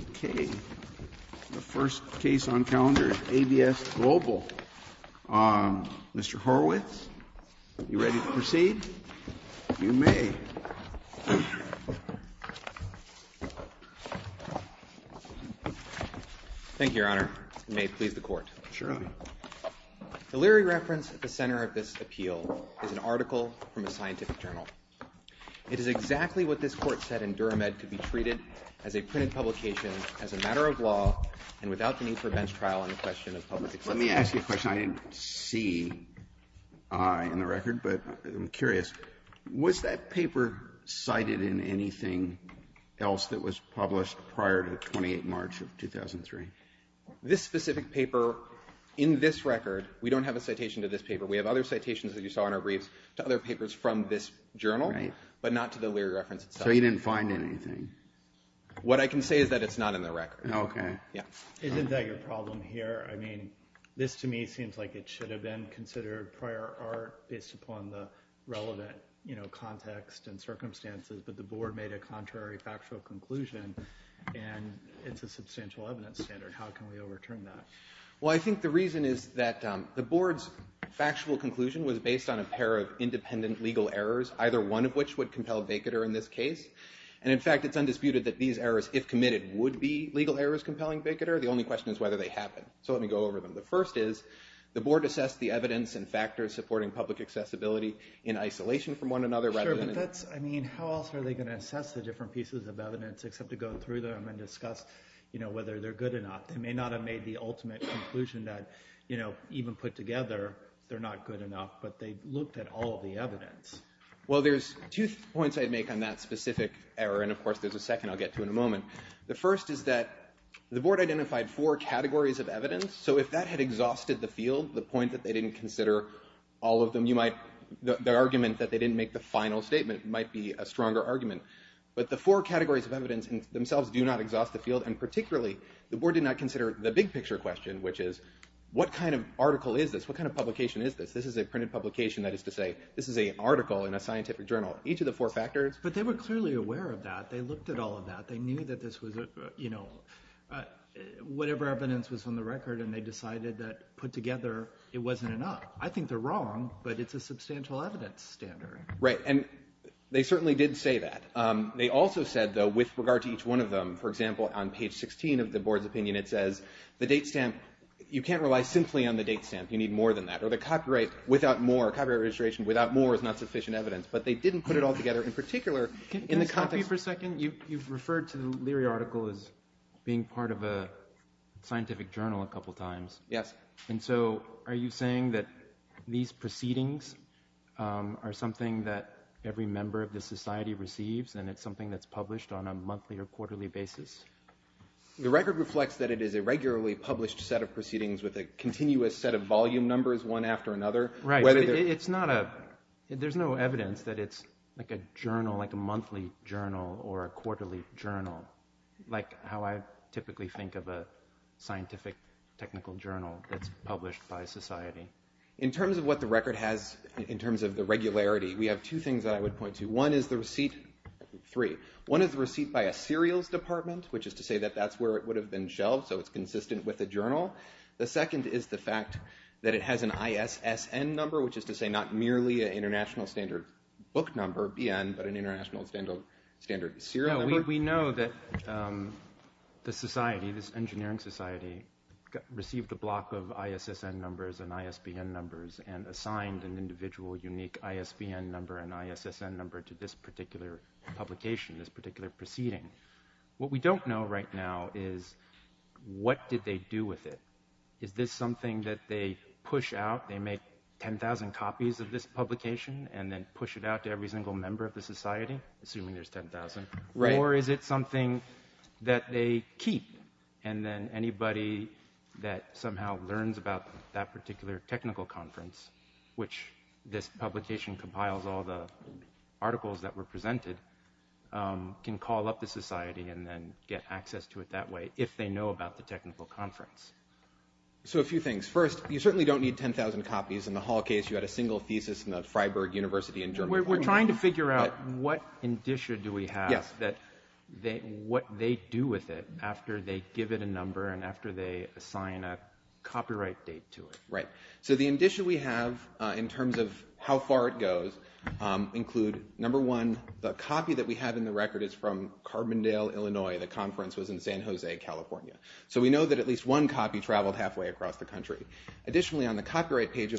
Okay, the first case on calendar is ABS Global. Mr. Horwitz, are you ready to proceed? You may. Thank you, Your Honor. You may please the court. Surely. The leery reference at the center of this appeal is an article from a scientific journal. It is exactly what this court said in Durham Ed could be treated as a printed publication, as a matter of law, and without the need for a bench trial on the question of public acceptance. Let me ask you a question. I didn't see I in the record, but I'm curious. Was that paper cited in anything else that was published prior to 28 March of 2003? This specific paper, in this record, we don't have a citation to this paper. We have other citations that you saw in our briefs to other papers from this journal, but not to the leery reference itself. So you didn't find anything? What I can say is that it's not in the record. Okay. Isn't that your problem here? I mean, this to me seems like it should have been considered prior art based upon the relevant, you know, context and circumstances, but the board made a contrary factual conclusion, and it's a substantial evidence standard. How can we overturn that? Well, I think the reason is that the board's factual conclusion was based on a pair of independent legal errors, either one of which would compel Vicodur in this case, and in fact it's undisputed that these errors, if committed, would be legal errors compelling Vicodur. The only question is whether they happen. So let me go over them. The first is the board assessed the evidence and factors supporting public accessibility in isolation from one another. Sure, but that's, I mean, how else are they going to assess the different pieces of evidence except to go through them and discuss, you know, whether they're good or not. They may not have made the ultimate conclusion that, you know, even put together, they're not good enough, but they looked at all of the evidence. Well, there's two points I'd make on that specific error, and of course there's a second I'll get to in a moment. The first is that the board identified four categories of evidence, so if that had exhausted the field, the point that they didn't consider all of them, you might, the argument that they didn't make the final statement might be a stronger argument. But the four categories of evidence themselves do not exhaust the field, and particularly the board did not consider the big picture question, which is what kind of article is this? What kind of publication is this? This is a printed publication, that is to say, this is an article in a scientific journal. Each of the four factors. But they were clearly aware of that. They looked at all of that. They knew that this was, you know, whatever evidence was on the record, and they decided that put together, it wasn't enough. I think they're wrong, but it's a substantial evidence standard. Right, and they certainly did say that. They also said, though, with regard to each one of them, for example, on page 16 of the board's opinion, it says, the date stamp, you can't rely simply on the date stamp. You need more than that. Or the copyright, without more, copyright registration without more is not sufficient evidence. But they didn't put it all together. In particular, in the context Excuse me for a second. You've referred to the Leary article as being part of a scientific journal a couple times. And so are you saying that these proceedings are something that every member of the society receives, and it's something that's published on a monthly or quarterly basis? The record reflects that it is a regularly published set of proceedings with a continuous set of volume numbers one after another. Right. It's not a, there's no evidence that it's like a journal, like a monthly journal or a quarterly journal, like how I typically think of a scientific technical journal that's published by society. In terms of what the record has, in terms of the regularity, we have two things that I would point to. One is the receipt, three. One is the receipt by a serials department, which is to say that that's where it would have been shelved, so it's consistent with the journal. The second is the fact that it has an ISSN number, which is to say not merely an international standard book number, BN, but an international standard serial number. We know that the society, this engineering society, received a block of ISSN numbers and ISBN numbers and assigned an individual unique ISBN number and ISSN number to this particular publication, this particular proceeding. What we don't know right now is what did they do with it? Is this something that they push out, they make 10,000 copies of this publication and then push it out to every single member of the society, assuming there's 10,000? Or is it something that they keep and then anybody that somehow learns about that particular technical conference, which this publication compiles all the articles that were presented, can call up the society and then get access to it that way, if they know about the technical conference? So a few things. First, you certainly don't need 10,000 copies. In the Hall case, you had a single thesis in the Freiburg University in Germany. We're trying to figure out what indicia do we have, what they do with it after they give it a number and after they assign a copyright date to it. So the indicia we have in terms of how far it goes include, number one, the copy that we have in the record is from Carbondale, Illinois. The conference was in San Jose, California. So we know that at least one copy traveled halfway across the country. Additionally, we have at page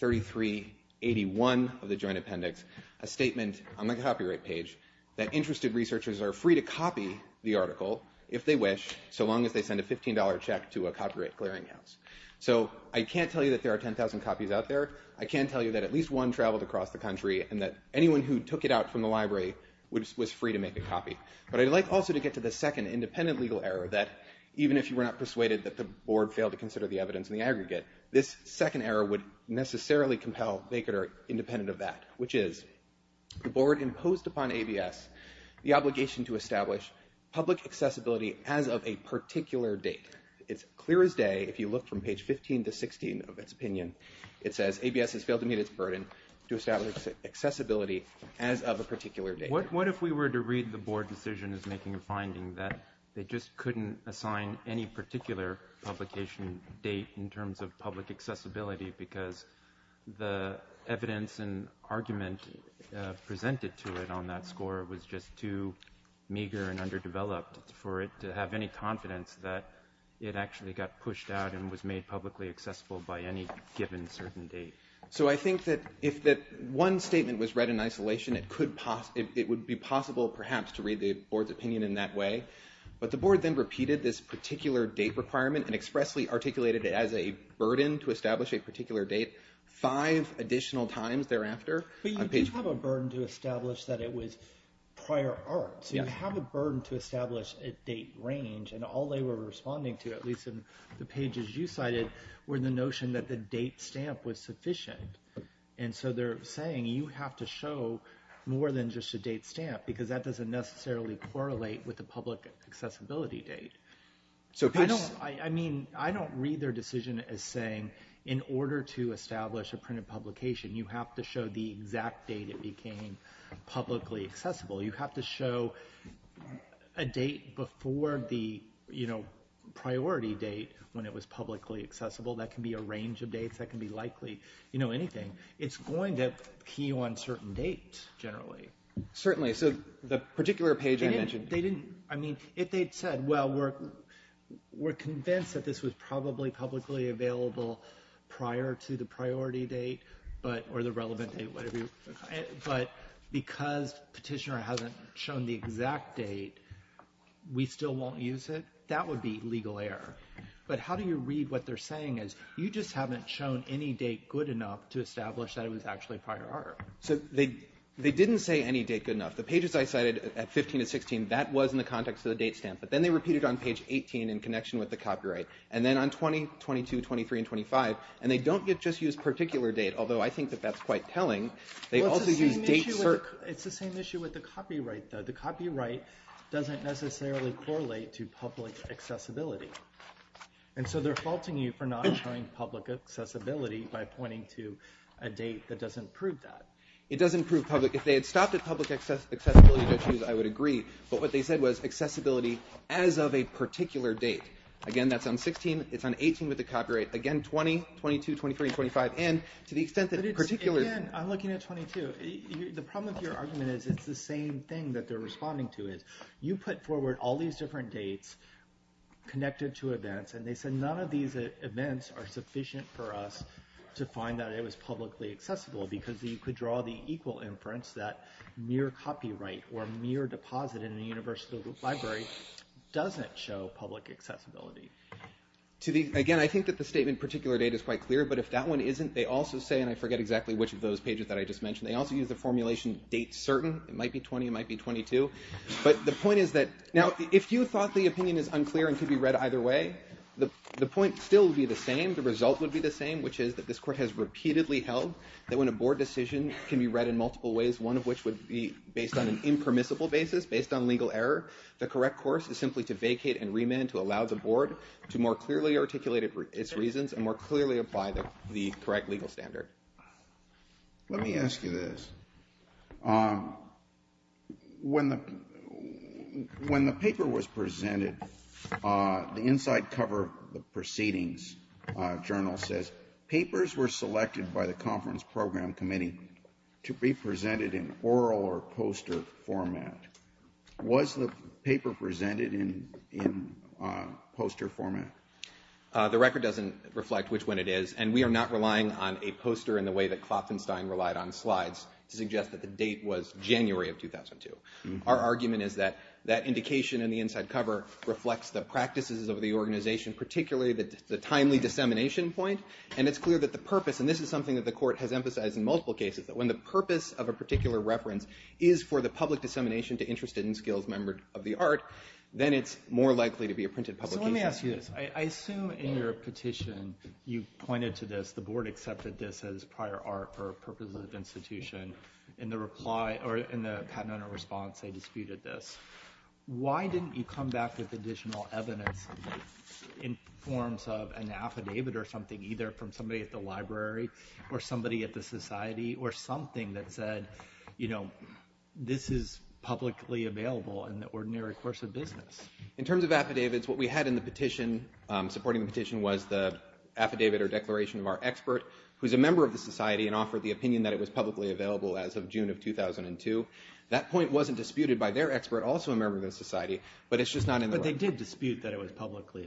3381 of the joint appendix a statement on the copyright page that interested researchers are free to copy the article, if they wish, so long as they send a $15 check to a copyright clearinghouse. So I can't tell you that there are 10,000 copies out there. I can tell you that at least one traveled across the country and that anyone who took it out from the library was free to make a copy. But I'd like also to get to the second independent legal error that, even if you were not persuaded that the board failed to consider the evidence in the aggregate, this second error would necessarily compel Baker to be independent of that, which is the board imposed upon ABS the obligation to establish public accessibility as of a particular date. It's clear as day, if you look from page 15 to 16 of its opinion, it says ABS has failed to meet its burden to establish accessibility as of a particular date. Because the evidence and argument presented to it on that score was just too meager and underdeveloped for it to have any confidence that it actually got pushed out and was made publicly accessible by any given certain date. So I think that if that one statement was read in isolation, it would be possible, perhaps, to read the board's opinion in that way. But the board then repeated this particular date requirement and expressly articulated it as a burden to establish a particular date five additional times thereafter. But you do have a burden to establish that it was prior art. So you have a burden to establish a date range. And all they were responding to, at least in the pages you cited, were the notion that the date stamp was sufficient. And so they're saying you have to show more than just a date stamp, because that doesn't necessarily correlate with the public accessibility date. I don't read their decision as saying in order to establish a printed publication, you have to show the exact date it became publicly accessible. You have to show a date before the priority date when it was publicly accessible. That can be a range of dates. That can be likely anything. It's going to key on certain dates, generally. But how do you read what they're saying? You just haven't shown any date good enough to establish that it was actually prior art. So they didn't say any date good enough. The pages I cited at 15 to 16, that was in the context of the date stamp. But then they repeated on page 18 in connection with the copyright. And then on 20, 22, 23, and 25, and they don't just use particular date, although I think that that's quite telling. It's the same issue with the copyright, though. The copyright doesn't necessarily correlate to public accessibility. And so they're faulting you for not showing public accessibility by pointing to a date that doesn't prove that. It doesn't prove public. If they had stopped at public accessibility issues, I would agree. But what they said was accessibility as of a particular date. Again, that's on 16. It's on 18 with the copyright. Again, 20, 22, 23, 25. Again, I'm looking at 22. The problem with your argument is it's the same thing that they're responding to. You put forward all these different dates connected to events, and they said none of these events are sufficient for us to find that it was publicly accessible because you could draw the equal inference that mere copyright or mere deposit in a university library doesn't show public accessibility. Again, I think that the statement particular date is quite clear. But if that one isn't, they also say, and I forget exactly which of those pages that I just mentioned, they also use the formulation date certain. It might be 20. It might be 22. But the point is that now if you thought the opinion is unclear and could be read either way, the point still would be the same. The result would be the same, which is that this court has repeatedly held that when a board decision can be read in multiple ways, one of which would be based on an impermissible basis, based on legal error, the correct course is simply to vacate and remand to allow the board to more clearly articulate its reasons and more clearly apply the correct legal standard. Let me ask you this. When the paper was presented, the inside cover of the proceedings journal says, papers were selected by the conference program committee to be presented in oral or poster format. Was the paper presented in poster format? The record doesn't reflect which one it is. And we are not relying on a poster in the way that Klopfenstein relied on slides to suggest that the date was January of 2002. Our argument is that that indication in the inside cover reflects the practices of the organization, particularly the timely dissemination point. And it's clear that the purpose, and this is something that the court has emphasized in multiple cases, that when the purpose of a particular reference is for the public dissemination to interested and skilled members of the art, then it's more likely to be a printed publication. So let me ask you this. I assume in your petition, you pointed to this, the board accepted this as prior art for purposes of institution. In the reply, or in the patent owner response, they disputed this. Why didn't you come back with additional evidence in forms of an affidavit or something, either from somebody at the library or somebody at the society or something that said, you know, this is publicly available in the ordinary course of business? In terms of affidavits, what we had in the petition, supporting the petition, was the affidavit or declaration of our expert, who's a member of the society and offered the opinion that it was publicly available as of June of 2002. That point wasn't disputed by their expert, also a member of the society, but it's just not in the record. But they did dispute that it was publicly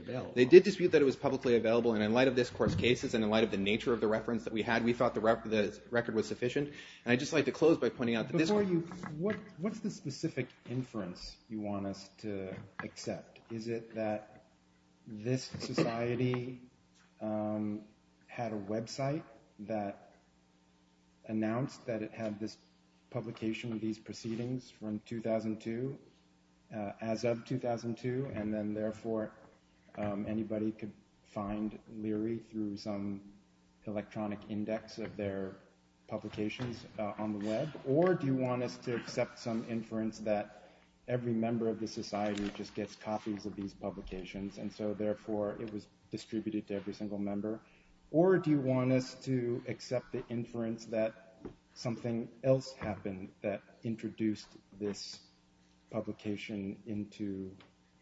available. And in light of this, of course, cases, and in light of the nature of the reference that we had, we thought the record was sufficient. And I'd just like to close by pointing out that this one- So, do you want us to accept the inference that Leary, through some electronic index of their publications on the web, or do you want us to accept some inference that every member of the society just gets copies of these publications, and so therefore it was distributed to every single member? Or do you want us to accept the inference that something else happened that introduced this publication into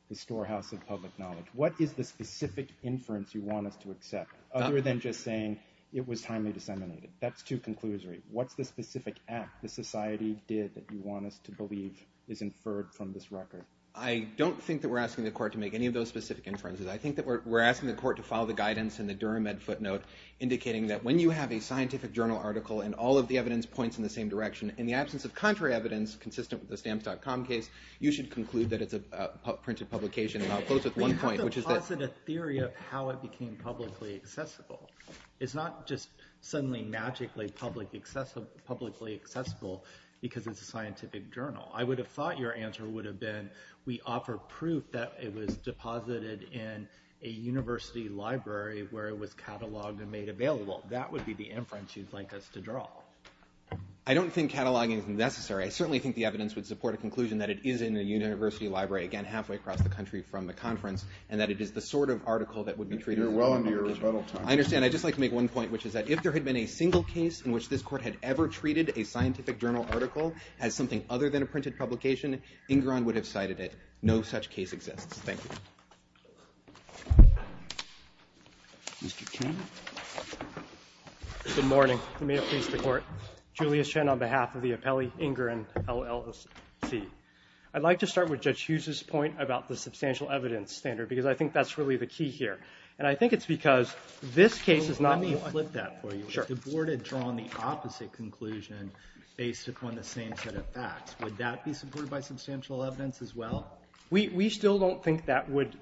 the storehouse of public knowledge? What is the specific inference you want us to accept, other than just saying it was timely disseminated? That's too conclusory. What's the specific act the society did that you want us to believe is inferred from this record? I don't think that we're asking the court to make any of those specific inferences. I think that we're asking the court to follow the guidance in the Durham Med footnote, indicating that when you have a scientific journal article and all of the evidence points in the same direction, in the absence of contrary evidence consistent with the Stamps.com case, you should conclude that it's a printed publication. And I'll close with one point, which is that- It's not just suddenly magically publicly accessible because it's a scientific journal. I would have thought your answer would have been, we offer proof that it was deposited in a university library where it was cataloged and made available. That would be the inference you'd like us to draw. I don't think cataloging is necessary. I certainly think the evidence would support a conclusion that it is in a university library, again, halfway across the country from the conference, and that it is the sort of article that would be treated- You're well into your rebuttal time. I understand. I'd just like to make one point, which is that if there had been a single case in which this court had ever treated a scientific journal article as something other than a printed publication, Ingram would have cited it. No such case exists. Thank you. Mr. King? Good morning. May it please the Court. Julius Chen on behalf of the appellee, Ingram, LLC. I'd like to start with Judge Hughes's point about the substantial evidence standard, because I think that's really the key here. And I think it's because this case is not- Let me flip that for you. Sure. If the Board had drawn the opposite conclusion based upon the same set of facts, would that be supported by substantial evidence as well? We still don't think that would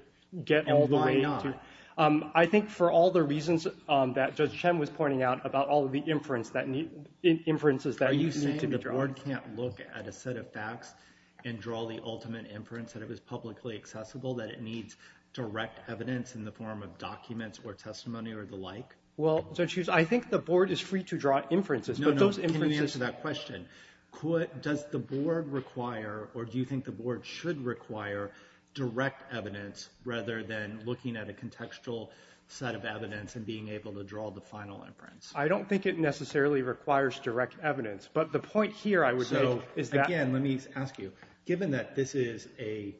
get all the way to- And why not? I think for all the reasons that Judge Chen was pointing out about all of the inferences that need to be drawn- Are you saying the Board can't look at a set of facts and draw the ultimate inference that it was publicly accessible, that it needs direct evidence in the form of documents or testimony or the like? Well, Judge Hughes, I think the Board is free to draw inferences, but those inferences- I don't think it necessarily requires direct evidence. But the point here, I would say, is that- Again, let me ask you. Given that this is an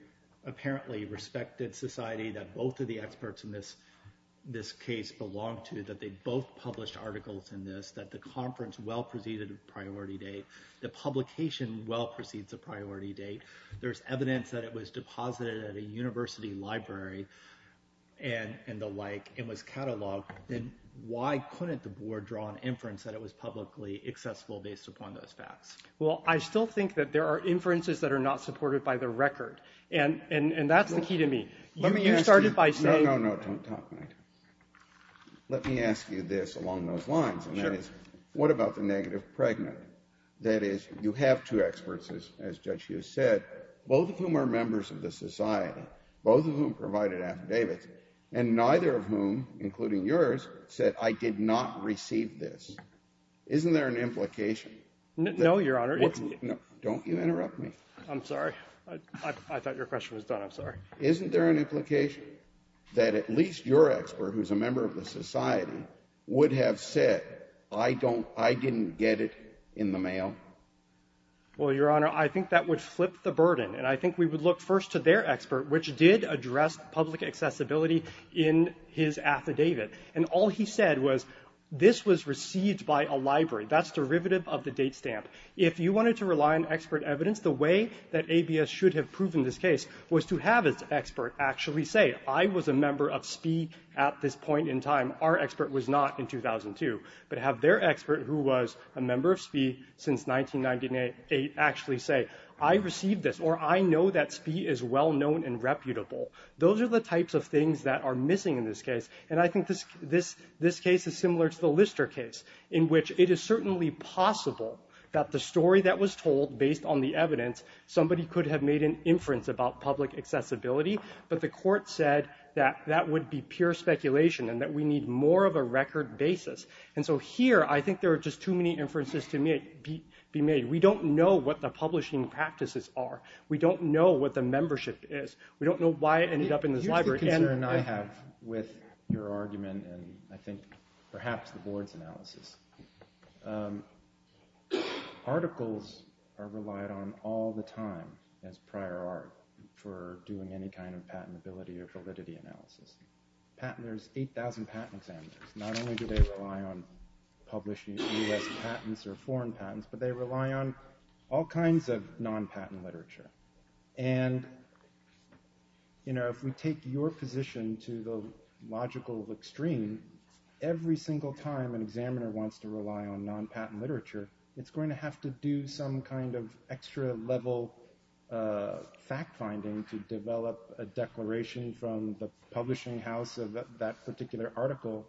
apparently respected society that both of the experts in this case belong to, that they both published articles in this, that the conference well preceded a priority date, the publication well precedes a priority date, there's evidence that it was deposited at a university library, and the like, it was catalogued, then why couldn't the Board draw an inference that it was publicly accessible based upon those facts? Well, I still think that there are inferences that are not supported by the record. And that's the key to me. You started by saying- No, no, no, don't talk. Let me ask you this along those lines. And that is, what about the negative pregnant? That is, you have two experts, as Judge Hughes said, both of whom are members of the society, both of whom provided affidavits, and neither of whom, including yours, said, I did not receive this. Isn't there an implication? No, Your Honor. Don't you interrupt me. I'm sorry. I thought your question was done. I'm sorry. Isn't there an implication that at least your expert, who's a member of the society, would have said, I didn't get it in the mail? Well, Your Honor, I think that would flip the burden. And I think we would look first to their expert, which did address public accessibility in his affidavit. And all he said was, this was received by a library. That's derivative of the date stamp. If you wanted to rely on expert evidence, the way that ABS should have proven this case was to have its expert actually say, I was a member of SPEE at this point in time. Our expert was not in 2002. But have their expert, who was a member of SPEE since 1998, actually say, I received this, or I know that SPEE is well-known and reputable. Those are the types of things that are missing in this case. And I think this case is similar to the Lister case, in which it is certainly possible that the story that was told, based on the evidence, somebody could have made an inference about public accessibility. But the court said that that would be pure speculation and that we need more of a record basis. And so here, I think there are just too many inferences to be made. We don't know what the publishing practices are. We don't know what the membership is. I have with your argument, and I think perhaps the board's analysis, articles are relied on all the time as prior art for doing any kind of patentability or validity analysis. There's 8,000 patent examiners. Not only do they rely on publishing US patents or foreign patents, but they rely on all kinds of non-patent literature. And if we take your position to the logical extreme, every single time an examiner wants to rely on non-patent literature, it's going to have to do some kind of extra-level fact-finding to develop a declaration from the publishing house of that particular article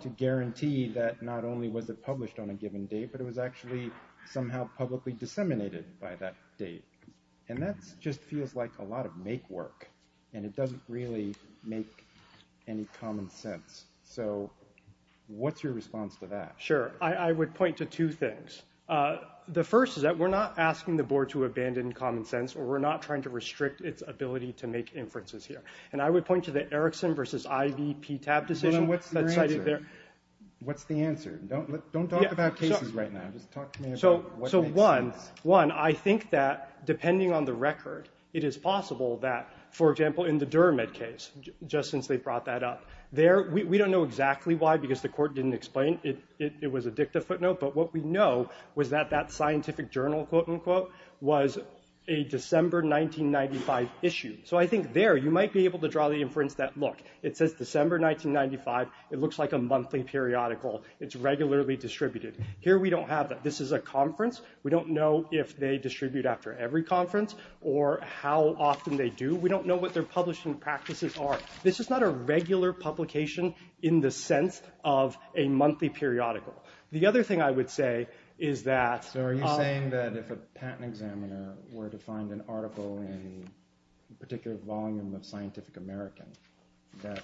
to guarantee that not only was it published on a given date, but it was actually somehow publicly disseminated by that date. And that just feels like a lot of make-work, and it doesn't really make any common sense. So what's your response to that? Sure. I would point to two things. The first is that we're not asking the board to abandon common sense, or we're not trying to restrict its ability to make inferences here. And I would point to the Erickson versus Ivey PTAB decision. What's the answer? Don't talk about cases right now. Just talk to me about what makes sense. One, I think that, depending on the record, it is possible that, for example, in the Durham case, just since they brought that up, we don't know exactly why, because the court didn't explain it was a dicta footnote. But what we know was that that scientific journal, quote, unquote, was a December 1995 issue. So I think there, you might be able to draw the inference that, look, it says December 1995. It looks like a monthly periodical. It's regularly distributed. Here, we don't have that. This is a conference. We don't know if they distribute after every conference or how often they do. We don't know what their publishing practices are. This is not a regular publication in the sense of a monthly periodical. The other thing I would say is that… So are you saying that if a patent examiner were to find an article in a particular volume of Scientific American, that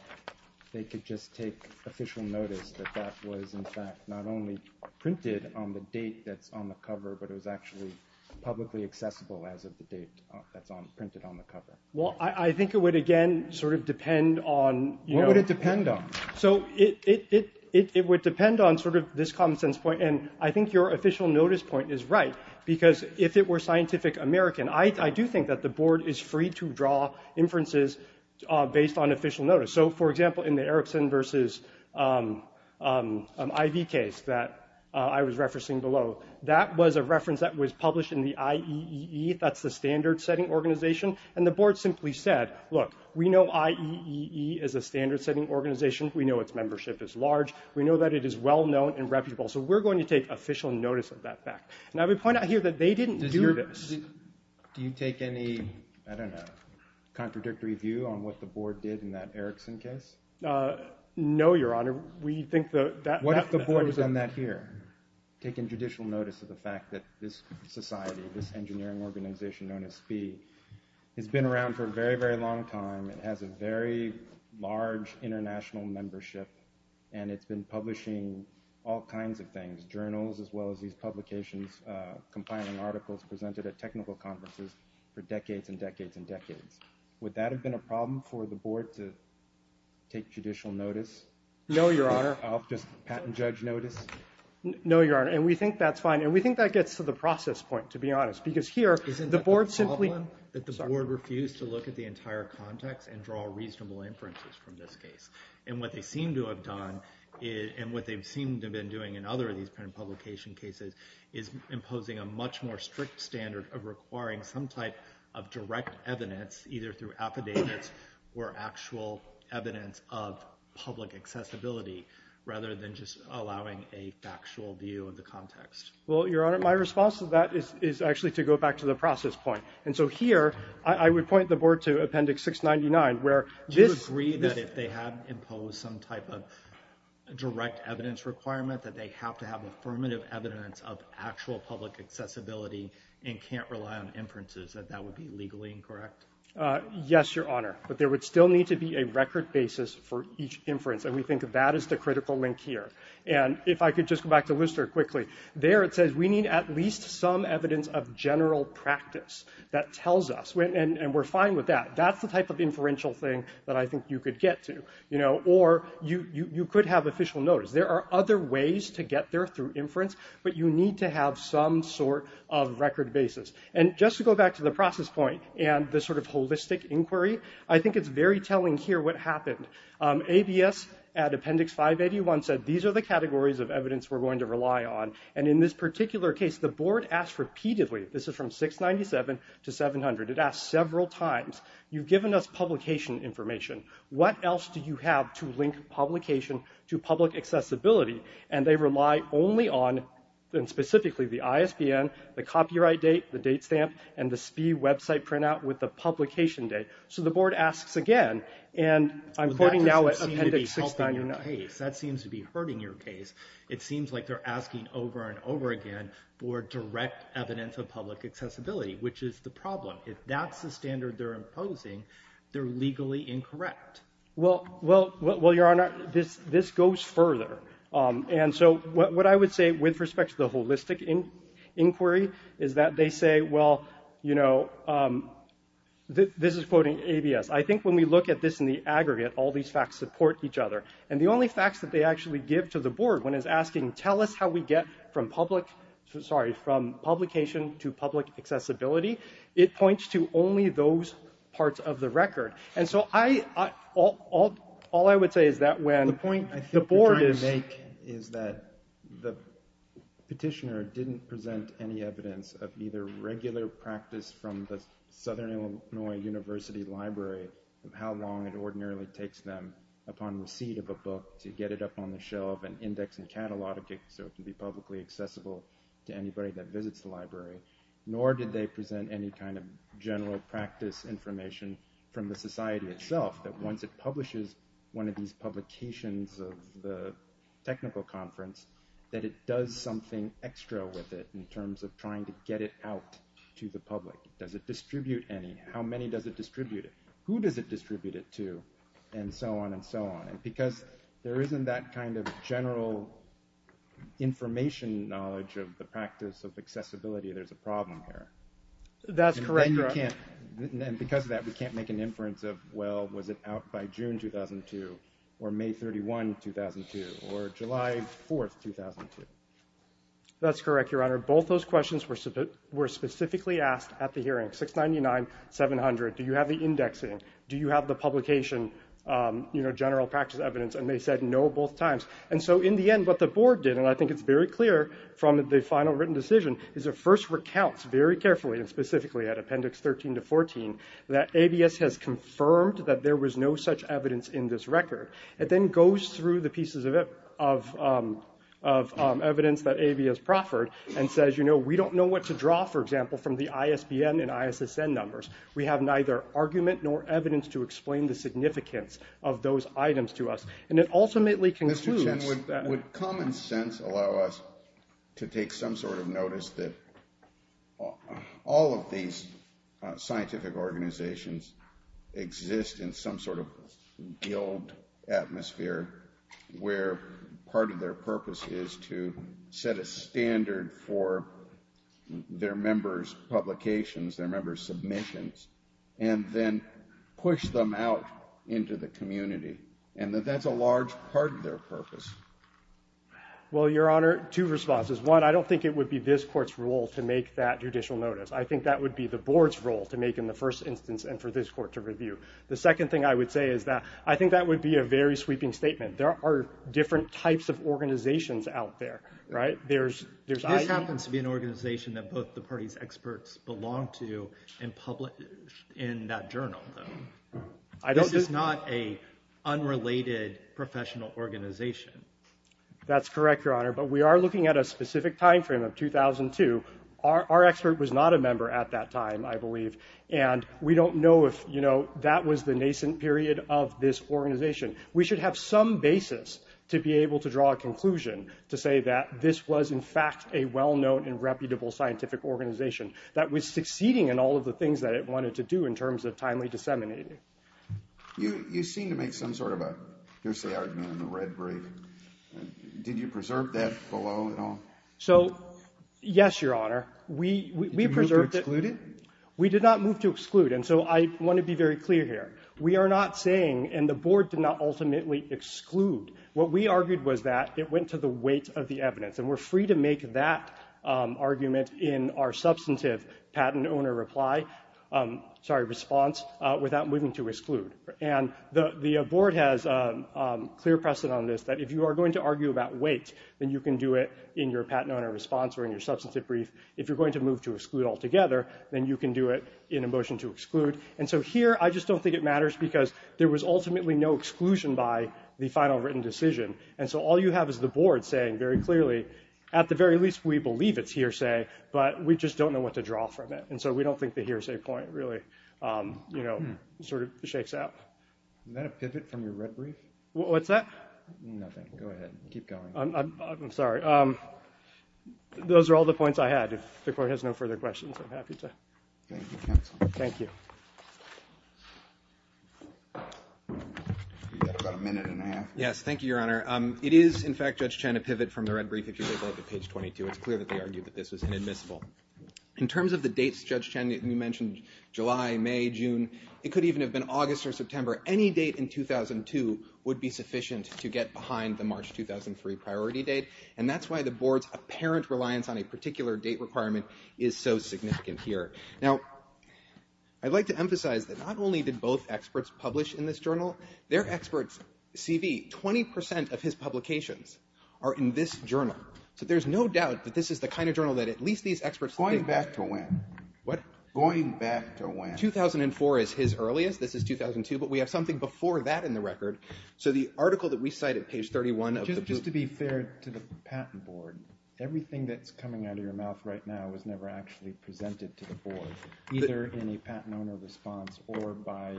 they could just take official notice that that was, in fact, not only printed on the date that's on the cover, but it was actually publicly accessible as of the date that's printed on the cover? Well, I think it would, again, sort of depend on… What would it depend on? So it would depend on sort of this common sense point. And I think your official notice point is right because if it were Scientific American, I do think that the board is free to draw inferences based on official notice. So, for example, in the Erickson versus Ivey case that I was referencing below, that was a reference that was published in the IEEE. That's the standard setting organization. And the board simply said, look, we know IEEE is a standard setting organization. We know its membership is large. We know that it is well known and reputable. So we're going to take official notice of that fact. Now, we point out here that they didn't do this. Do you take any, I don't know, contradictory view on what the board did in that Erickson case? No, Your Honor. What if the board has done that here? Taken judicial notice of the fact that this society, this engineering organization known as SPEE, has been around for a very, very long time. It has a very large international membership, and it's been publishing all kinds of things, journals as well as these publications, compiling articles presented at technical conferences for decades and decades and decades. Would that have been a problem for the board to take judicial notice? No, Your Honor. Oh, just patent judge notice? No, Your Honor. And we think that's fine. And we think that gets to the process point, to be honest. Because here, the board simply— Isn't that the problem, that the board refused to look at the entire context and draw reasonable inferences from this case? And what they seem to have done, and what they seem to have been doing in other of these patent publication cases, is imposing a much more strict standard of requiring some type of direct evidence, either through affidavits or actual evidence of public accessibility, rather than just allowing a factual view of the context. Well, Your Honor, my response to that is actually to go back to the process point. And so here, I would point the board to Appendix 699, where this— Do you agree that if they had imposed some type of direct evidence requirement, that they have to have affirmative evidence of actual public accessibility and can't rely on inferences, that that would be legally incorrect? Yes, Your Honor. But there would still need to be a record basis for each inference, and we think that is the critical link here. And if I could just go back to Lister quickly. There, it says we need at least some evidence of general practice that tells us—and we're fine with that. That's the type of inferential thing that I think you could get to. Or you could have official notice. There are other ways to get there through inference, but you need to have some sort of record basis. And just to go back to the process point and the sort of holistic inquiry, I think it's very telling here what happened. ABS at Appendix 581 said these are the categories of evidence we're going to rely on. And in this particular case, the board asked repeatedly—this is from 697 to 700. It asked several times, you've given us publication information. What else do you have to link publication to public accessibility? And they rely only on, and specifically, the ISBN, the copyright date, the date stamp, and the SPIE website printout with the publication date. So the board asks again, and I'm quoting now at Appendix 69— Well, that doesn't seem to be helping your case. That seems to be hurting your case. It seems like they're asking over and over again for direct evidence of public accessibility, which is the problem. If that's the standard they're imposing, they're legally incorrect. Well, Your Honor, this goes further. And so what I would say with respect to the holistic inquiry is that they say, well, you know, this is quoting ABS. I think when we look at this in the aggregate, all these facts support each other. And the only facts that they actually give to the board when it's asking, tell us how we get from publication to public accessibility, it points to only those parts of the record. And so all I would say is that when the board is— The point I think you're trying to make is that the petitioner didn't present any evidence of either regular practice from the Southern Illinois University Library of how long it ordinarily takes them upon receipt of a book to get it up on the shelf and index and catalog it so it can be publicly accessible to anybody that visits the library, nor did they present any kind of general practice information from the society itself, that once it publishes one of these publications of the technical conference, that it does something extra with it in terms of trying to get it out to the public. Does it distribute any? How many does it distribute it? Who does it distribute it to? And so on and so on. Because there isn't that kind of general information knowledge of the practice of accessibility, there's a problem here. That's correct, Your Honor. And because of that, we can't make an inference of, well, was it out by June 2002, or May 31, 2002, or July 4, 2002. That's correct, Your Honor. Both those questions were specifically asked at the hearing. 699, 700. Do you have the indexing? Do you have the publication general practice evidence? And they said no both times. And so in the end, what the board did, and I think it's very clear from the final written decision, is it first recounts very carefully and specifically at appendix 13 to 14 that ABS has confirmed that there was no such evidence in this record. It then goes through the pieces of evidence that ABS proffered and says, you know, we don't know what to draw, for example, from the ISBN and ISSN numbers. We have neither argument nor evidence to explain the significance of those items to us. And it ultimately concludes that — Mr. Chen, would common sense allow us to take some sort of notice that all of these scientific organizations exist in some sort of guild atmosphere where part of their purpose is to set a standard for their members' publications, their members' submissions, and then push them out into the community? And that that's a large part of their purpose. Well, Your Honor, two responses. One, I don't think it would be this court's role to make that judicial notice. I think that would be the board's role to make in the first instance and for this court to review. The second thing I would say is that I think that would be a very sweeping statement. There are different types of organizations out there, right? There's — This happens to be an organization that both the party's experts belong to and published in that journal, though. This is not an unrelated professional organization. That's correct, Your Honor. But we are looking at a specific timeframe of 2002. Our expert was not a member at that time, I believe. And we don't know if, you know, that was the nascent period of this organization. We should have some basis to be able to draw a conclusion to say that this was, in fact, a well-known and reputable scientific organization that was succeeding in all of the things that it wanted to do in terms of timely disseminating. You seem to make some sort of a — here's the argument in the red brief. Did you preserve that below at all? So, yes, Your Honor. We preserved it. Did you move to exclude it? We did not move to exclude. And so I want to be very clear here. We are not saying — and the board did not ultimately exclude. What we argued was that it went to the weight of the evidence. And we're free to make that argument in our substantive patent owner reply — sorry, response without moving to exclude. And the board has clear precedent on this, that if you are going to argue about weight, then you can do it in your patent owner response or in your substantive brief. If you're going to move to exclude altogether, then you can do it in a motion to exclude. And so here, I just don't think it matters because there was ultimately no exclusion by the final written decision. And so all you have is the board saying very clearly, at the very least, we believe it's hearsay, but we just don't know what to draw from it. And so we don't think the hearsay point really, you know, sort of shakes out. Is that a pivot from your red brief? What's that? Nothing. Go ahead. Keep going. I'm sorry. Those are all the points I had. If the court has no further questions, I'm happy to — Thank you, counsel. Thank you. You've got about a minute and a half. Yes, thank you, Your Honor. It is, in fact, Judge Chen, a pivot from the red brief. If you look at page 22, it's clear that they argued that this was inadmissible. In terms of the dates, Judge Chen, you mentioned July, May, June. It could even have been August or September. Any date in 2002 would be sufficient to get behind the March 2003 priority date. And that's why the board's apparent reliance on a particular date requirement is so significant here. Now, I'd like to emphasize that not only did both experts publish in this journal, their experts' CV, 20 percent of his publications, are in this journal. So there's no doubt that this is the kind of journal that at least these experts think — Going back to when? What? Going back to when? 2004 is his earliest. This is 2002. But we have something before that in the record. So the article that we cite at page 31 of the — Just to be fair to the patent board, everything that's coming out of your mouth right now was never actually presented to the board, either in a patent owner response or by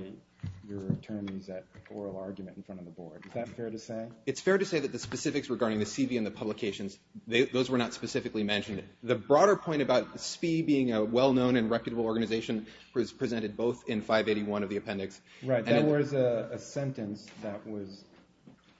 your attorneys at oral argument in front of the board. Is that fair to say? It's fair to say that the specifics regarding the CV and the publications, those were not specifically mentioned. The broader point about SPIE being a well-known and reputable organization was presented both in 581 of the appendix. Right. There was a sentence that was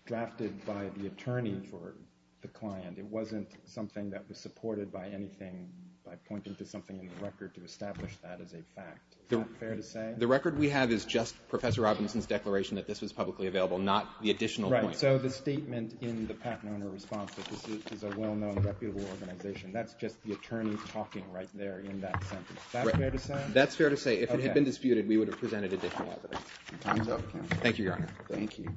drafted by the attorney for the client. It wasn't something that was supported by anything, by pointing to something in the record to establish that as a fact. Is that fair to say? The record we have is just Professor Robinson's declaration that this was publicly available, not the additional point. Right. So the statement in the patent owner response that this is a well-known, reputable organization, that's just the attorney talking right there in that sentence. Is that fair to say? That's fair to say. If it had been disputed, we would have presented it differently. Time's up. Thank you, Your Honor. Thank you.